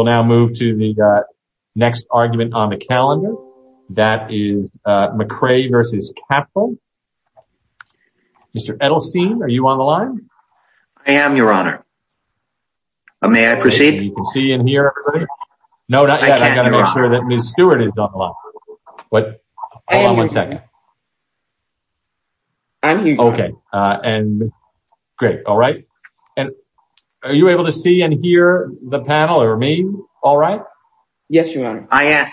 will now move to the next argument on the calendar. That is McCrae v. Capital. Mr. Edelstein, are you on the line? I am, your honor. May I proceed? You can see and hear? No, not yet. I've got to make sure that Ms. Stewart is on the line. What? Hold on one second. Okay. And great. All right. And are you able to see and hear the panel or me? All right. Yes, your honor. I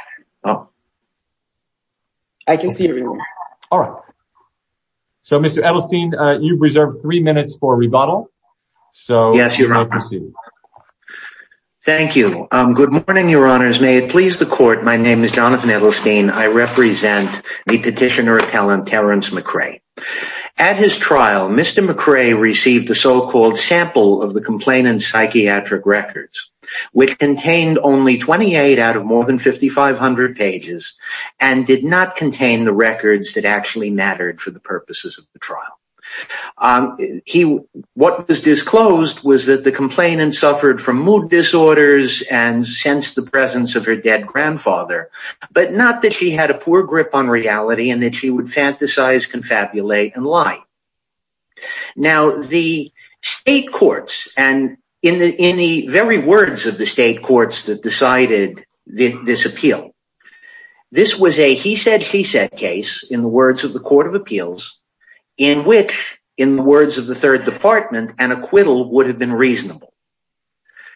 can see you. All right. So, Mr. Edelstein, you've reserved three minutes for rebuttal. So, yes, your honor. Thank you. Good morning, your honors. May it please the court. My name is Jonathan Edelstein. I represent the petitioner appellant, Terrence McCrae. At his trial, Mr. McCrae received the so-called sample of the complainant's psychiatric records, which contained only 28 out of more than 5,500 pages and did not contain the records that actually mattered for the purposes of the trial. What was disclosed was that the complainant suffered from mood disorders and sensed the presence of her dead grandfather, but not that she had a poor grip on reality and that she would fantasize, confabulate, and lie. Now, the state courts, and in the very words of the state courts that decided this appeal, this was a he said, she said case, in the words of the court of appeals, in which, in the words of the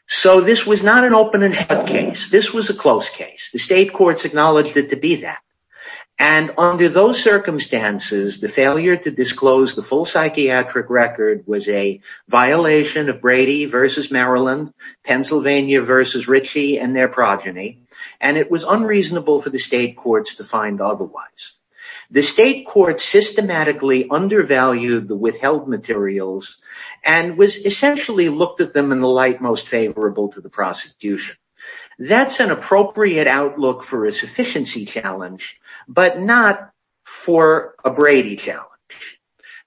So, this was not an open and shut case. This was a close case. The state courts acknowledged it to be that, and under those circumstances, the failure to disclose the full psychiatric record was a violation of Brady versus Maryland, Pennsylvania versus Ritchie and their progeny, and it was unreasonable for the state courts to find otherwise. The state courts systematically undervalued the withheld materials and was essentially looked at them in the light most favorable to the prosecution. That's an appropriate outlook for a sufficiency challenge, but not for a Brady challenge.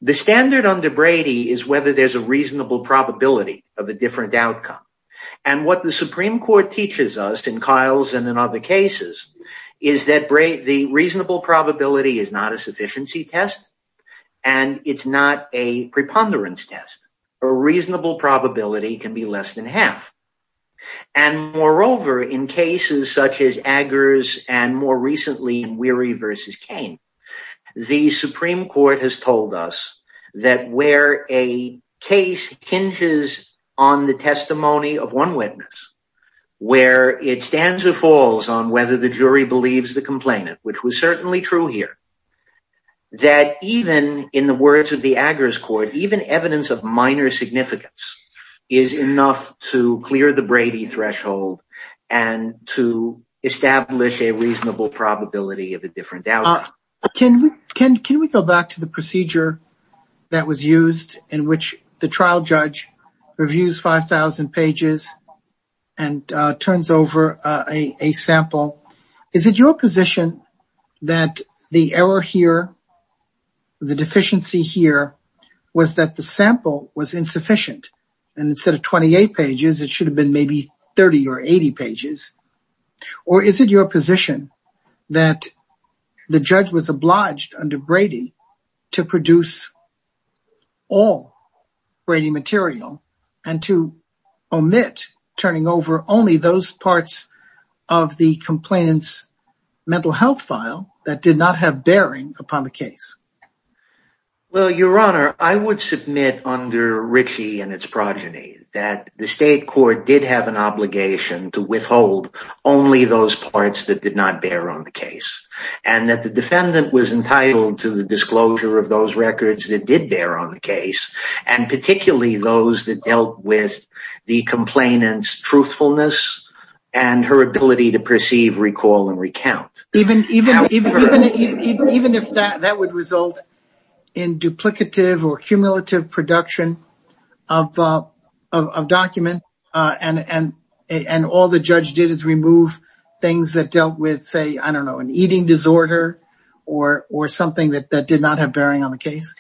The standard under Brady is whether there's a reasonable probability of a different outcome, and what the Supreme Court teaches us in Kyle's and in other cases is that the reasonable probability is not a sufficiency test, and it's not a preponderance test. A reasonable probability can be less than half, and moreover, in cases such as Aggers and more recently Weary versus Kane, the Supreme Court has told us that where a case hinges on the whether the jury believes the complainant, which was certainly true here, that even in the words of the Aggers court, even evidence of minor significance is enough to clear the Brady threshold and to establish a reasonable probability of a different outcome. Can we go back to the procedure that was used in which the trial judge reviews 5,000 pages and turns over a sample is it your position that the error here, the deficiency here was that the sample was insufficient and instead of 28 pages, it should have been maybe 30 or 80 pages, or is it your position that the judge was obliged under Brady to produce all Brady material and to omit turning over only those parts of the complainant's mental health file that did not have bearing upon the case? Well, your honor, I would submit under Ritchie and its progeny that the state court did have an obligation to withhold only those parts that did not bear on the case, and that the defendant was entitled to the disclosure of those records that did bear on the case, and particularly those that dealt with the complainant's truthfulness and her ability to perceive, recall, and recount. Even if that would result in duplicative or cumulative production of documents and all the judge did is remove things that dealt with, say, I don't know, an eating disorder or something that did not have bearing on the case?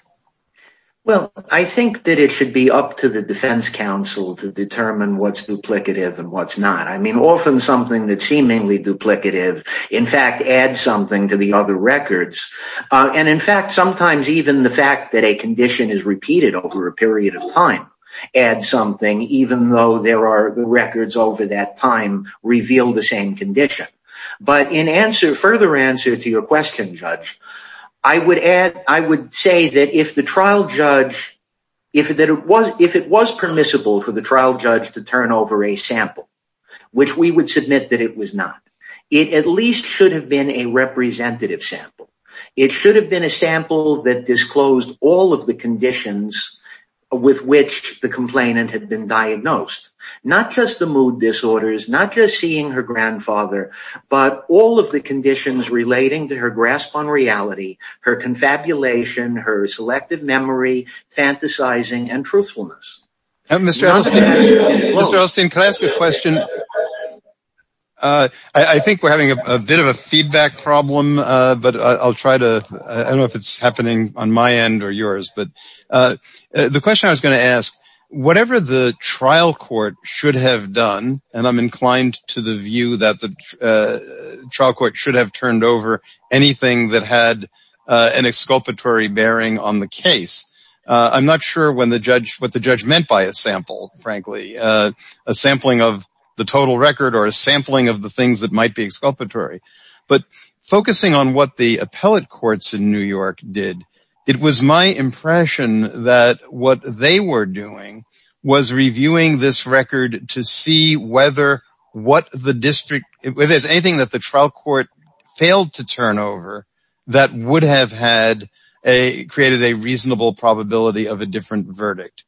Well, I think that it should be up to the defense counsel to determine what's duplicative and what's not. I mean, often something that's seemingly duplicative, in fact, adds something to the other records. And in fact, sometimes even the fact that a condition is repeated over a period of time adds something, even though there are records over that time reveal the same condition. But in further answer to your question, Judge, I would say that if it was permissible for the trial judge to turn over a sample, which we would submit that it was not, it at least should have been a representative sample. It should have been a sample that disclosed all of the conditions with which the complainant had been diagnosed, not just the mood disorders, not just seeing her grandfather, but all of the conditions relating to her grasp on reality, her confabulation, her selective memory, fantasizing, and truthfulness. Mr. Elstein, can I ask a question? I think we're having a bit of a feedback problem, but I'll try to, I don't know if it's happening on my end or yours, but the question I was going to ask, whatever the trial court should have done, and I'm inclined to the view that the trial court should have turned over anything that had an exculpatory bearing on the case. I'm not sure what the judge meant by a sample, frankly, a sampling of the total record or a sampling of the things that might be exculpatory. But focusing on what the appellate courts in New York did, it was my impression that what they were doing was reviewing this record to see whether what the district, if there's anything that the trial court failed to turn over that would have had a, created a reasonable probability of a different verdict.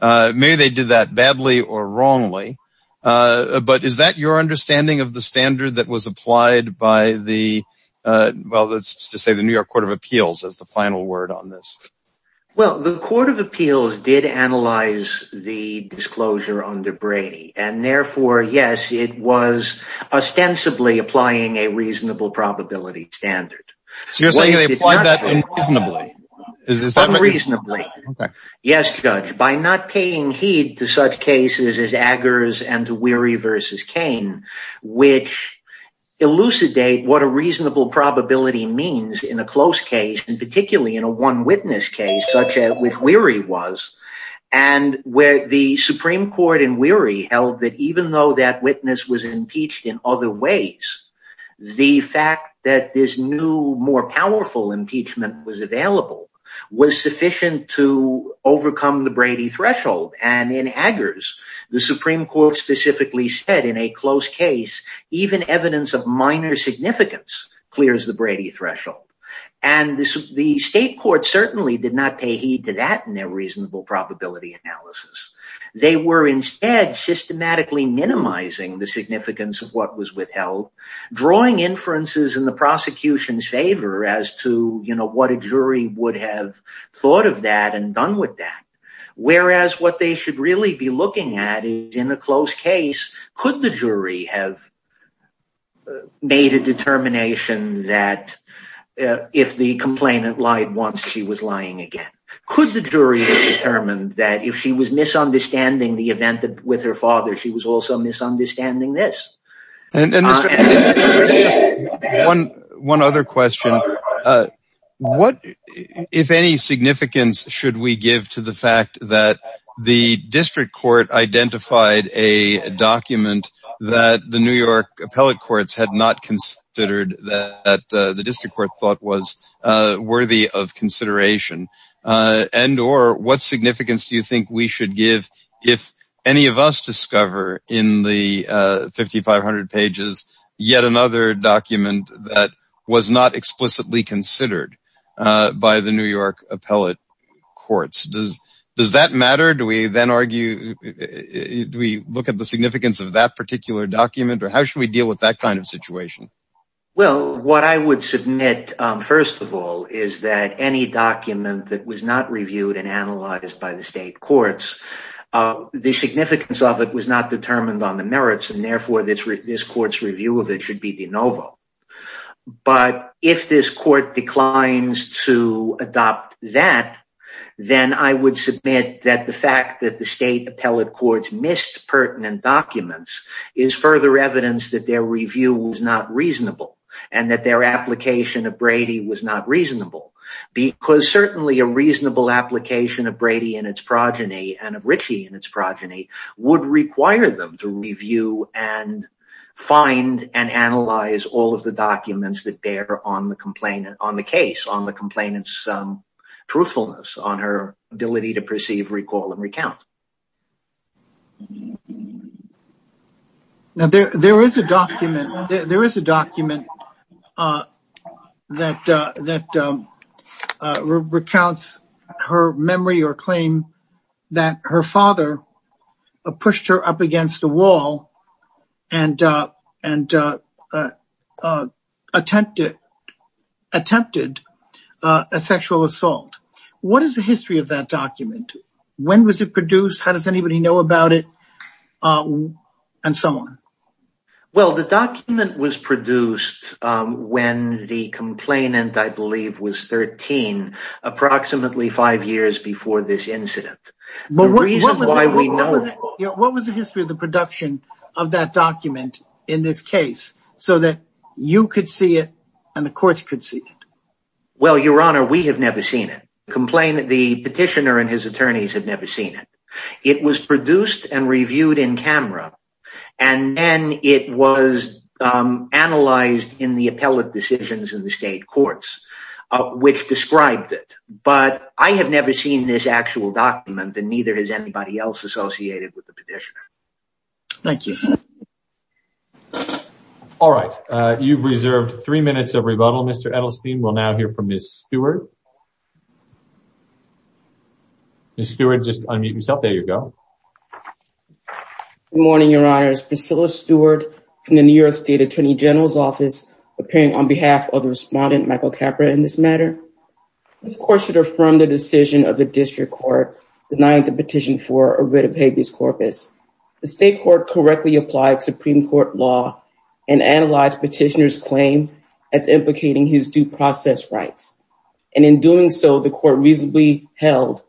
Maybe they did that badly or wrongly, but is that your understanding of the standard that was applied by the, well, let's just say the New York Court of Appeals as the final word on this? Well, the Court of Appeals did analyze the disclosure under Brady and therefore, yes, it was ostensibly applying a reasonable probability standard. So you're saying they applied that unreasonably? Unreasonably. Yes, judge, by not paying heed to such cases as Aggers and to Weary v. Cain, which elucidate what a reasonable probability means in a close case, and particularly in a one witness case, such as with Weary was, and where the Supreme Court in Weary held that even though that witness was impeached in other ways, the fact that this new, more powerful impeachment was available was sufficient to overcome the Brady threshold. And in Aggers, the Supreme Court specifically said in a close case, even evidence of minor significance clears the Brady threshold. And the state court certainly did not pay heed to that in their reasonable probability analysis. They were instead systematically minimizing the significance of what was withheld, drawing inferences in the prosecution's favor as to what a jury would have thought of that and done with that. Whereas what they should really be looking at is in a close case, could the jury have made a determination that if the complainant lied once, she was lying again? Could the jury have determined that if she was misunderstanding the event with her father, she was also misunderstanding this? One other question. What, if any, significance should we give to the fact that the district court identified a document that the New York appellate courts had not considered, that the district court thought was worthy of consideration? And or what significance do you think we should give if any of us discover in the 5,500 pages yet another document that was not explicitly considered by the New York appellate courts? Does that matter? Do we then argue, do we look at the significance of that particular document or how should we deal with that kind of situation? Well, what I would submit, first of all, is that any document that was not reviewed and analyzed by the state courts, the significance of it was not determined on the merits and therefore this court's review of it should be de novo. But if this court declines to adopt that, then I would submit that the fact that the state appellate courts missed pertinent documents is further evidence that their review was not reasonable and that their application of Brady was not reasonable. Because certainly a reasonable application of Brady and its progeny and of Ritchie and its progeny would require them to review and find and analyze all of the documents that bear on the case, on the complainant's truthfulness, on her ability to perceive, recall, and recount. Now there is a document that recounts her memory or claim that her father pushed her up against a wall and attempted a sexual assault. What is the history of that document? When was it produced? How does anybody know about it? Well, the document was produced when the complainant, I believe, was 13, approximately five years before this incident. What was the history of the production of that document in this case so that you could see it and the courts could see it? Your Honor, we have never seen it. The petitioner and his attorneys have never seen it. It was produced and reviewed in camera and then it was analyzed in the appellate decisions in the state courts which described it. But I have never seen this actual document and neither has anybody else associated with the petitioner. Thank you. All right. You've reserved three minutes of rebuttal, Mr. Edelstein. We'll now hear from Ms. Stewart. Ms. Stewart, just unmute yourself. There you go. Good morning, Your Honors. Priscilla Stewart from the New York State Attorney General's Office appearing on behalf of the respondent, Michael Capra, in this matter. This court should affirm the decision of the district court denying the petition for a writ corpus. The state court correctly applied Supreme Court law and analyzed petitioner's claim as implicating his due process rights. And in doing so, the court reasonably held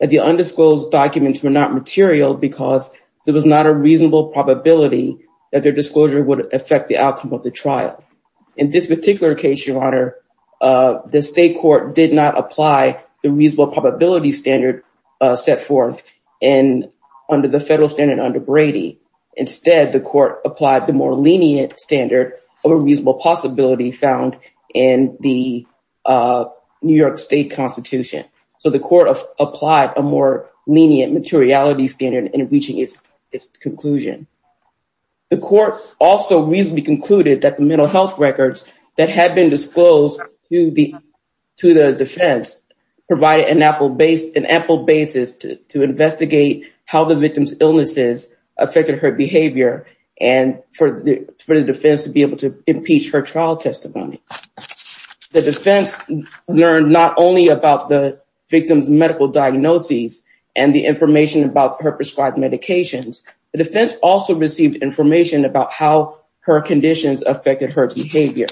that the undisclosed documents were not material because there was not a reasonable probability that their disclosure would affect the outcome of the trial. In this particular case, Your Honor, the state court did not apply the reasonable probability standard set forth under the federal standard under Brady. Instead, the court applied the more lenient standard of a reasonable possibility found in the New York State Constitution. So the court applied a more lenient materiality standard in reaching its conclusion. The court also reasonably concluded that the mental health records that had been disclosed to the defense provided an ample basis to investigate how the victim's illnesses affected her behavior and for the defense to be able to impeach her trial testimony. The defense learned not only about the victim's medical diagnoses and the information about her prescribed medications, the defense also received information about how her conditions affected her behavior.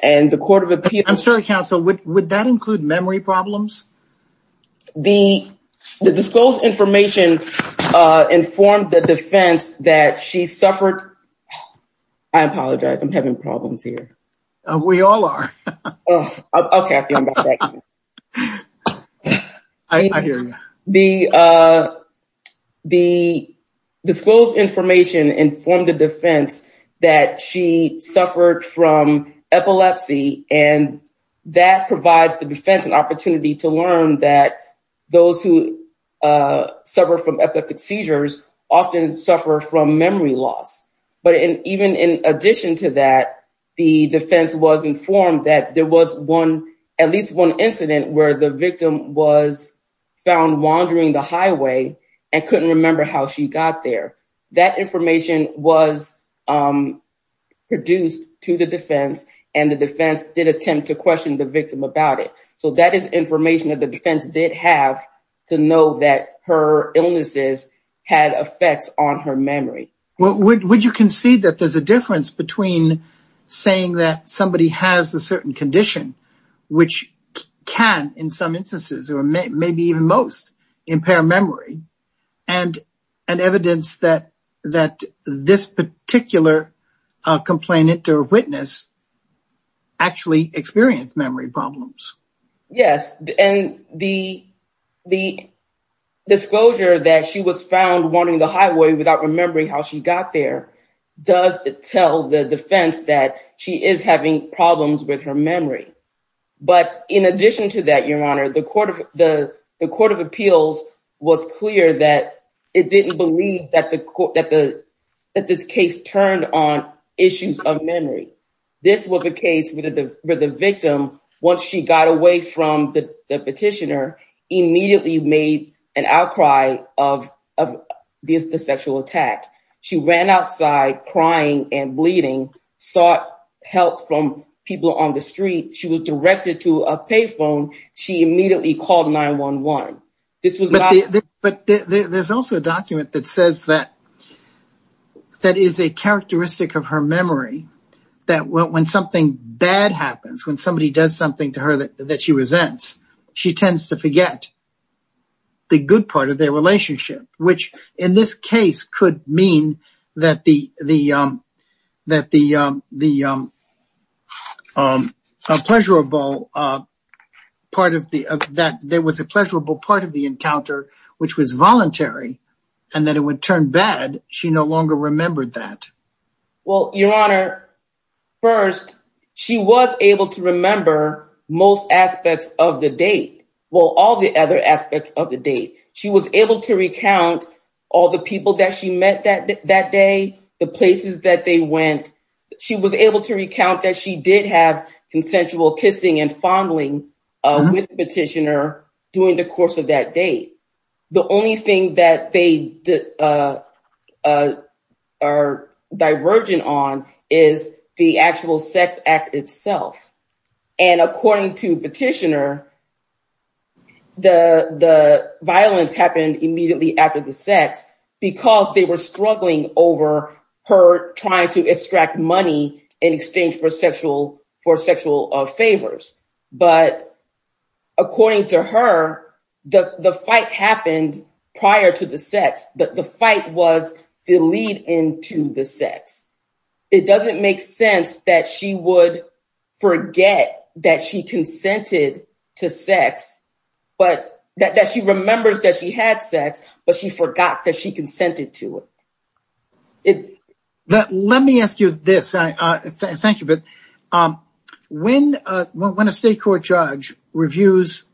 And the court of appeal... I'm sorry, counsel, would that include memory problems? The disclosed information informed the defense that she suffered... I apologize, I'm having problems here. We all are. Okay, I'll get back to you. I hear you. The disclosed information informed the defense that she suffered from epilepsy and that provides the defense an opportunity to learn that those who suffer from epileptic seizures often suffer from memory loss. But even in addition to that, the defense was informed that there was at least one incident where the victim was found wandering the highway and couldn't remember how she got there. That information was produced to the defense and the defense did attempt to question the victim about it. So that is information that the defense did have to know that her illnesses had effects on her memory. Would you concede that there's a difference between saying that somebody has a certain condition which can in some instances or maybe even most impair memory and evidence that this particular complainant or witness actually experienced memory problems? Yes. And the disclosure that she was found wandering the highway without remembering how she got there does tell the defense that she is having problems with her memory. But in addition to that, Your Honor, the Court of Appeals was clear that it didn't believe that this case turned on issues of memory. This was a case where the victim, once she got away from the petitioner, immediately made an outcry of the sexual attack. She ran outside crying and bleeding, sought help from people on the street. She was directed to a pay phone. She immediately called 911. But there's also a document that says that that is a characteristic of her memory that when something bad happens, when somebody does something to her that she resents, she tends to forget the good part of their relationship, which in this case could mean that there was a pleasurable part of the encounter, which was voluntary, and that it would turn bad. She no longer remembered that. Well, Your Honor, first, she was able to remember most aspects of the date. Well, all the other aspects of the date. She was able to recount all the people that she met that day, the places that they went. She was able to recount that she did have consensual kissing and fondling with the petitioner during the course of that date. The only thing that they are divergent on is the actual sex act itself. According to the petitioner, the violence happened immediately after the sex because they were struggling over her trying to according to her, the fight happened prior to the sex. The fight was the lead into the sex. It doesn't make sense that she would forget that she consented to sex, but that she remembers that she had sex, but she forgot that she consented to it. But let me ask you this. Thank you, but when a state court judge reviews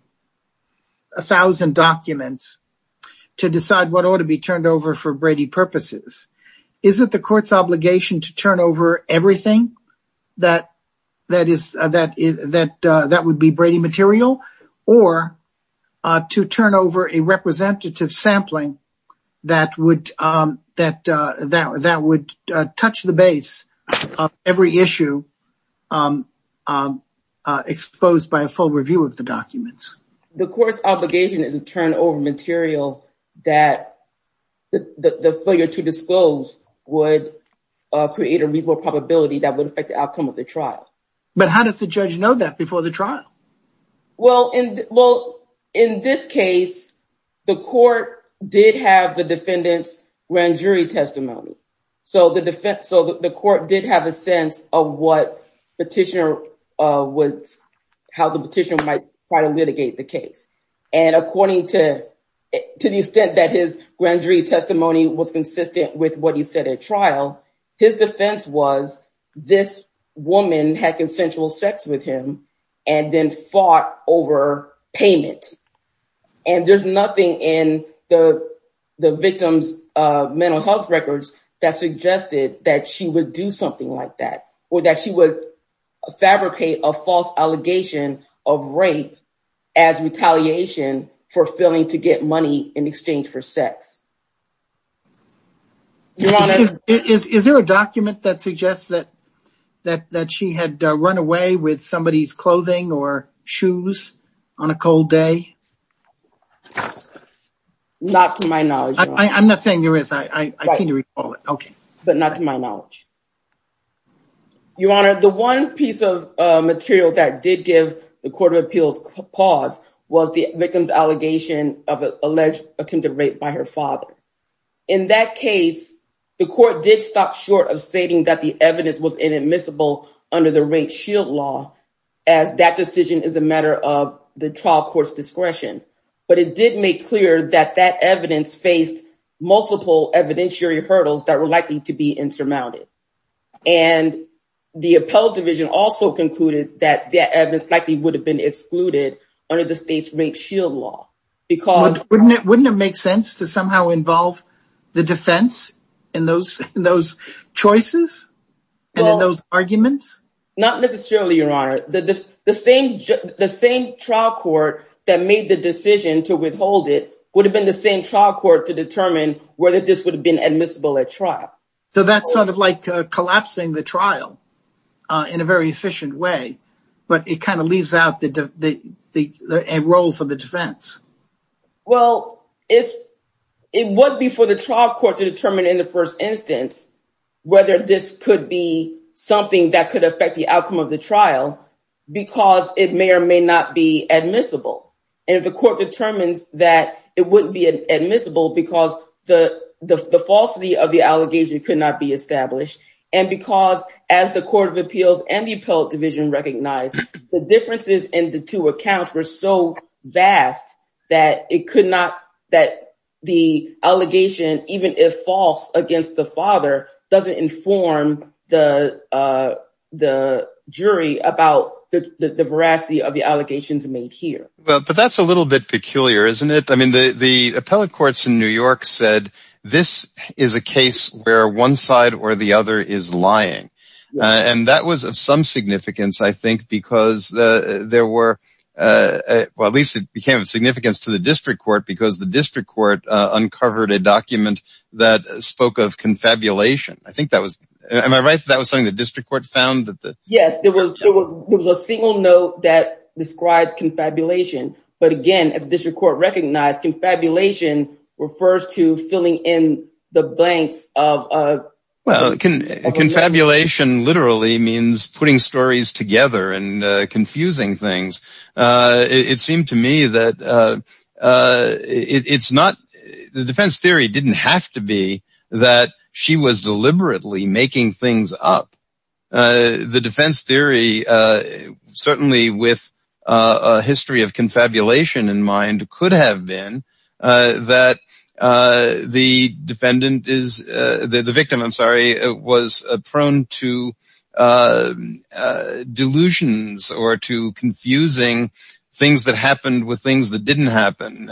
a thousand documents to decide what ought to be turned over for Brady purposes, isn't the court's obligation to turn over everything that would be Brady material, or to turn over a representative sampling that would touch the base of every issue exposed by a full review of the documents? The court's obligation is to turn over material that the failure to disclose would create a reasonable probability that would affect the outcome of the trial. But how does the judge know that before the trial? Well, in this case, the court did have the defendant's grand jury testimony. So the court did have a sense of how the petitioner might try to litigate the case. And according to the extent that his grand jury testimony was consistent with what he said at trial, his defense was this woman had consensual sex with him and then fought over payment. And there's nothing in the victim's mental health records that suggested that she would do something like that, or that she would fabricate a false allegation of rape as retaliation for to get money in exchange for sex. Is there a document that suggests that she had run away with somebody's clothing or shoes on a cold day? Not to my knowledge. I'm not saying there is. I seem to recall it. Okay. But not to my knowledge. Your Honor, the one piece of material that did give the Court of Alleged Attempted Rape by her father. In that case, the court did stop short of stating that the evidence was inadmissible under the rape shield law, as that decision is a matter of the trial court's discretion. But it did make clear that that evidence faced multiple evidentiary hurdles that were likely to be insurmounted. And the appellate division also concluded that evidence likely would have been excluded under the state's rape shield law. Wouldn't it make sense to somehow involve the defense in those choices and in those arguments? Not necessarily, Your Honor. The same trial court that made the decision to withhold it would have been the same trial court to determine whether this would have been admissible at trial. So that's sort of like collapsing the trial in a very efficient way. But it kind of leaves out a role for the defense. Well, it would be for the trial court to determine in the first instance whether this could be something that could affect the outcome of the trial, because it may or may not be admissible. And if the court determines that it wouldn't be admissible because the falsity of the allegation could not be established, and because as the Court of Appeals and the appellate division recognized, the differences in the two accounts were so vast that it could not, that the allegation, even if false against the father, doesn't inform the jury about the veracity of the allegations made here. But that's a little bit peculiar, isn't it? I mean, the appellate courts in New York said, this is a case where one side or the other is lying. And that was of some significance, I think, because there were, well, at least it became of significance to the district court, because the district court uncovered a document that spoke of confabulation. I think that was, am I right, that was something the district court found? Yes, there was a single note that described confabulation. But again, as district court recognized, confabulation refers to filling in the blanks of a... Well, confabulation literally means putting stories together and confusing things. It seemed to me that it's not, the defense theory didn't have to be that she was deliberately making things up. The defense theory, certainly with a history of confabulation in mind, could have been that the defendant is, the victim, I'm sorry, was prone to delusions or to confusing things that happened with things that didn't happen.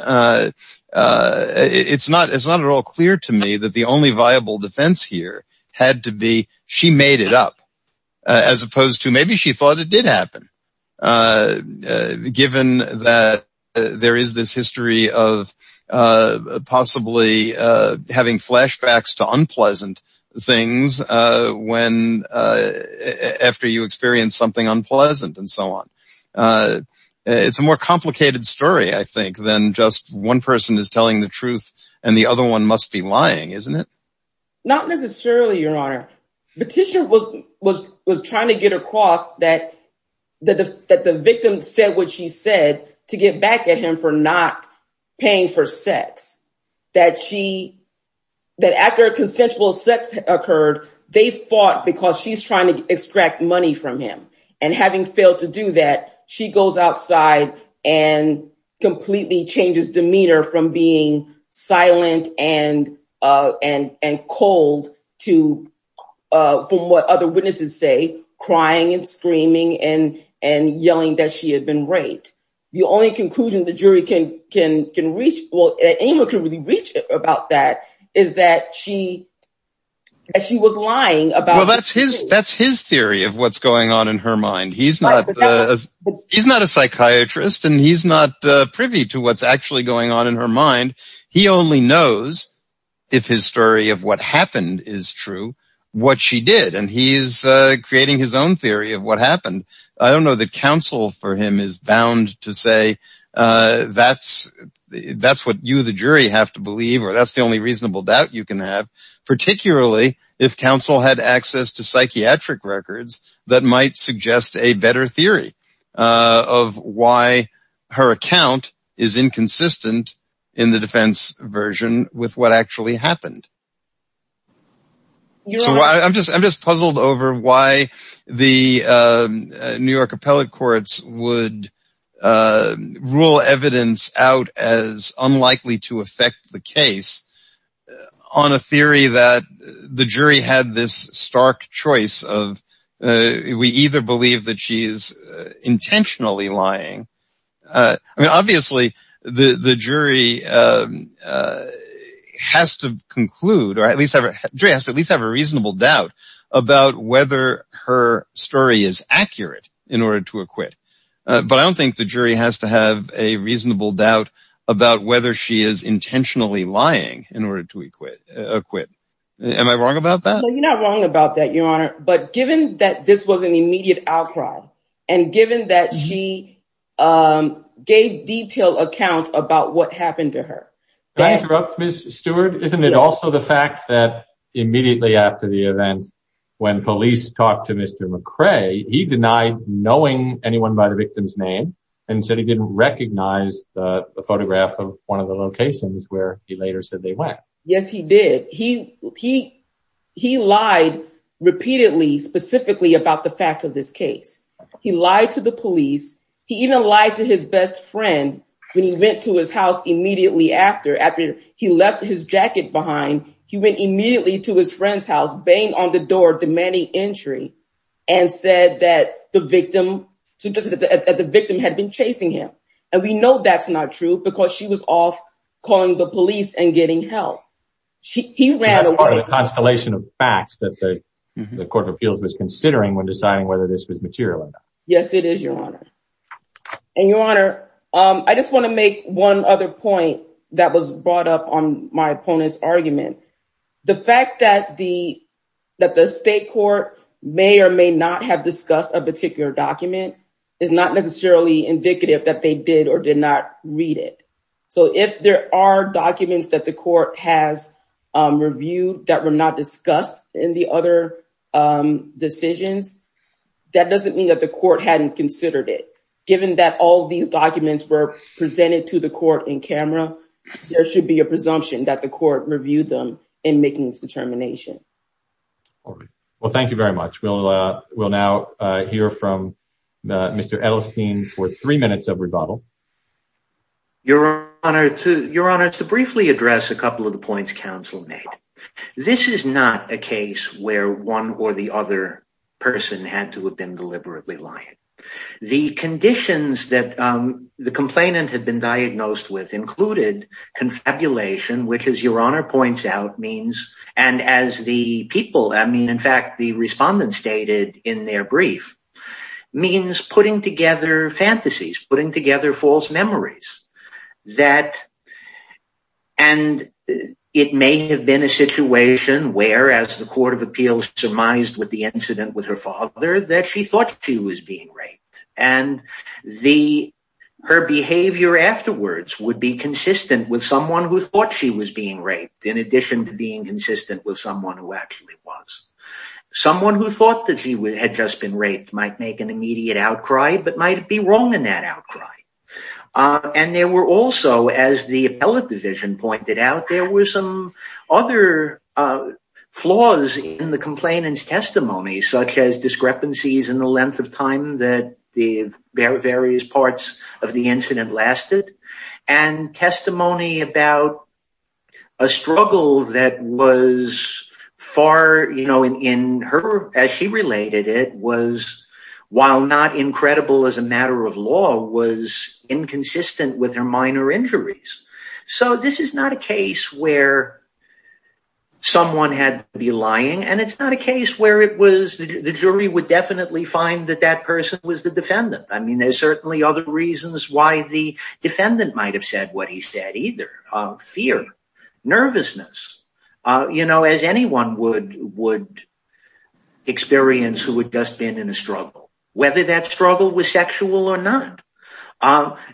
It's not at all clear to me that the only viable defense here had to be she made it up, as opposed to maybe she thought it did happen, given that there is this history of possibly having flashbacks to unpleasant things after you experience something unpleasant and so on. It's a more complicated story, I think, than just one person is telling the truth and the other one must be lying, isn't it? Not necessarily, your honor. Petitioner was trying to get across that the victim said what she said to get back at him for not paying for sex. That she, that after consensual sex occurred, they fought because she's trying to extract money from him. And having failed to do that, she goes outside and completely changes demeanor from being silent and cold to, from what other witnesses say, crying and screaming and yelling that she had been raped. The only conclusion the jury can reach, well anyone can really reach about that, is that she, she was lying about. Well, that's his, that's his theory of what's going on in her mind. He's not, he's not a psychiatrist and he's not privy to what's actually going on in her mind. He only knows if his story of what happened is true, what she did. And he's creating his own theory of what happened. I don't know that counsel for him is bound to say that's, that's what you the jury have to believe or that's the only reasonable doubt you can have, particularly if counsel had access to psychiatric records that might suggest a better theory of why her account is inconsistent in the defense version with what actually happened. So I'm just, I'm just puzzled over why the New York appellate courts would rule evidence out as unlikely to affect the case on a theory that the jury had this stark choice of, we either believe that she is intentionally lying, I mean obviously the, the jury has to conclude or at least have a, jury has to at least have a reasonable doubt about whether her story is accurate in order to acquit. But I don't think the jury has to a reasonable doubt about whether she is intentionally lying in order to acquit. Am I wrong about that? You're not wrong about that, your honor. But given that this was an immediate outcry and given that she gave detailed accounts about what happened to her. Can I interrupt Ms. Stewart? Isn't it also the fact that immediately after the event, when police talked to Mr. McCrae, he denied knowing anyone by the victim's name and said he didn't recognize the photograph of one of the locations where he later said they went. Yes, he did. He, he, he lied repeatedly, specifically about the fact of this case. He lied to the police. He even lied to his best friend when he went to his house immediately after, after he left his jacket behind, he went immediately to his friend's house, banged on the door, demanding entry and said that the victim, that the victim had been chasing him. And we know that's not true because she was off calling the police and getting help. She, he ran away. That's part of the constellation of facts that the Court of Appeals was considering when deciding whether this was material or not. Yes, it is, your honor. And your honor, I just want to make one other point that was brought up on my opponent's argument. The fact that the, that the state court may or may not have discussed a particular document is not necessarily indicative that they did or did not read it. So if there are documents that the court has reviewed that were not discussed in the other decisions, that doesn't mean that the court hadn't considered it. Given that all these documents were presented to the court in camera, there should be a presumption that the court reviewed them in making its determination. Well, thank you very much. We'll, we'll now hear from Mr. Edelstein for three minutes of rebuttal. Your honor, to, your honor, to briefly address a couple of the points counsel made. This is not a case where one or the other person had to have been deliberately lying. The conditions that the complainant had been diagnosed with included confabulation, which is your honor points out means, and as the people, I mean, in fact, the respondents stated in their brief means putting together fantasies, putting together false memories that, and it may have been a situation where as the Court of Appeals surmised with the incident with her father, that she thought she was being raped and the, her behavior afterwards would be consistent with someone who thought she was being raped. In addition to being consistent with someone who actually was someone who thought that she had just been raped might make an immediate outcry, but might be wrong in that outcry. And there were also, as the appellate pointed out, there were some other flaws in the complainant's testimony, such as discrepancies in the length of time that the various parts of the incident lasted and testimony about a struggle that was far, you know, in her, as she related it was, while not incredible as a matter of law was inconsistent with her minor injuries. So this is not a case where someone had to be lying. And it's not a case where it was the jury would definitely find that that person was the defendant. I mean, there's certainly other reasons why the defendant might have said what he said, either fear, nervousness, you know, as anyone would, would experience who would just been in struggle, whether that struggle was sexual or not,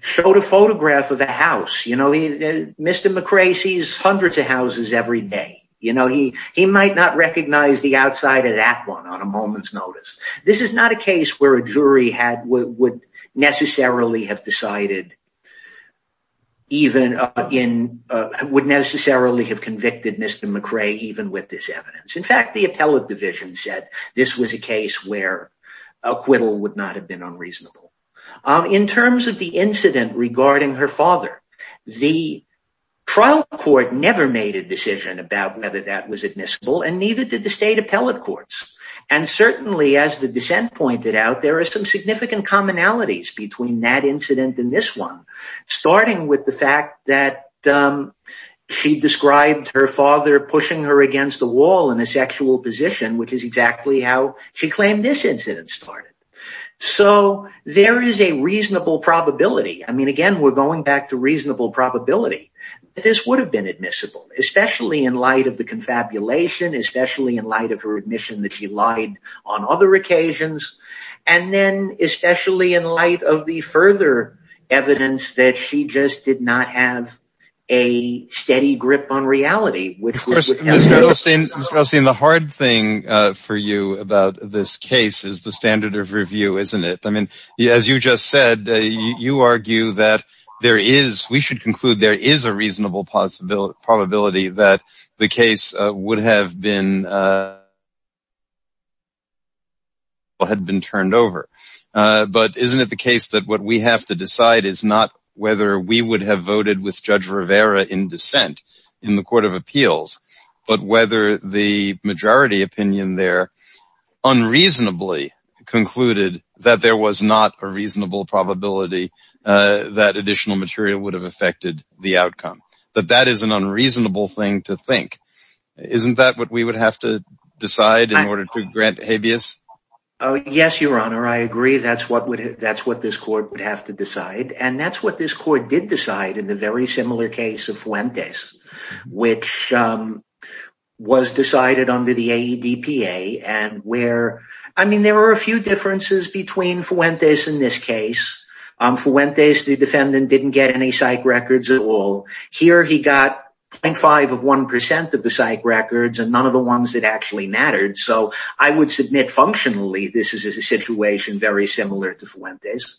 showed a photograph of a house, you know, Mr. McRae sees hundreds of houses every day, you know, he, he might not recognize the outside of that one on a moment's notice. This is not a case where a jury had would necessarily have decided even in would necessarily have convicted Mr. McRae even with this evidence. In fact, the appellate division said this was a case where acquittal would not have been unreasonable. In terms of the incident regarding her father, the trial court never made a decision about whether that was admissible, and neither did the state appellate courts. And certainly, as the dissent pointed out, there are some significant commonalities between that incident in this one, starting with the fact that she described her father pushing her against the wall in a sexual position, which is exactly how she claimed this incident started. So there is a reasonable probability. I mean, again, we're going back to reasonable probability, this would have been admissible, especially in light of the confabulation, especially in light of her admission that she lied on other occasions. And then especially in light of the further evidence that she just did not have a steady grip on reality, which was interesting. Mr. Osteen, the hard thing for you about this case is the standard of review, isn't it? I mean, as you just said, you argue that there is we should conclude there is a reasonable possibility that the case would have been turned over. But isn't it the case that what we have to decide is not whether we would have voted with Judge Rivera in dissent in the Court of Appeals, but whether the majority opinion there unreasonably concluded that there was not a reasonable probability that additional material would have affected the outcome. But that is an unreasonable thing to think. Isn't that what we would have to decide in order to grant habeas? Yes, Your Honor, I agree. That's what would that's what this court would have to decide. And that's what this court did decide in the very similar case of Fuentes, which was decided under the AEDPA. And where I mean, there were a few differences between Fuentes in this case. Fuentes, the defendant didn't get any psych records at all. Here he got 0.5 of 1% of the psych records and none of the ones that actually mattered. So I would submit functionally this is a situation very similar to Fuentes.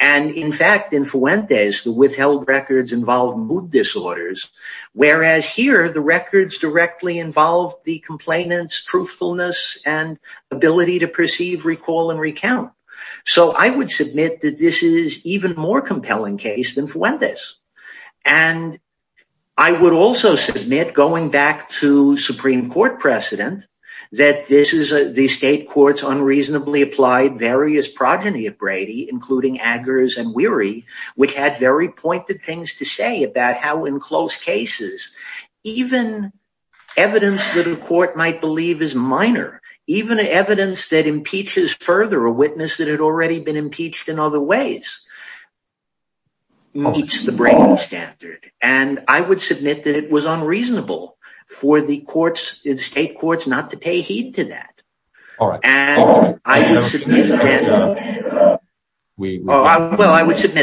And in fact, in Fuentes, the withheld records involved mood disorders, whereas here the records directly involved the complainants' truthfulness and ability to perceive, recall, and recount. So I would submit that this is even more compelling case than Fuentes. And I would also submit going back to Supreme Court precedent, that this is the state courts unreasonably applied various progeny of Brady, including Aggers and Weary, which had very pointed things to say about how in close cases, even evidence that a court might believe is minor, even evidence that impeaches further a witness that had already been impeached in other ways, meets the Brady standard. And I would submit that it was unreasonable for the courts, the state courts, not to pay heed to that. Well, I would submit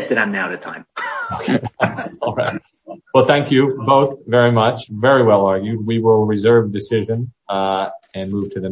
that I'm out of time. Well, thank you both very much. Very well argued. We will reserve decision and move to the next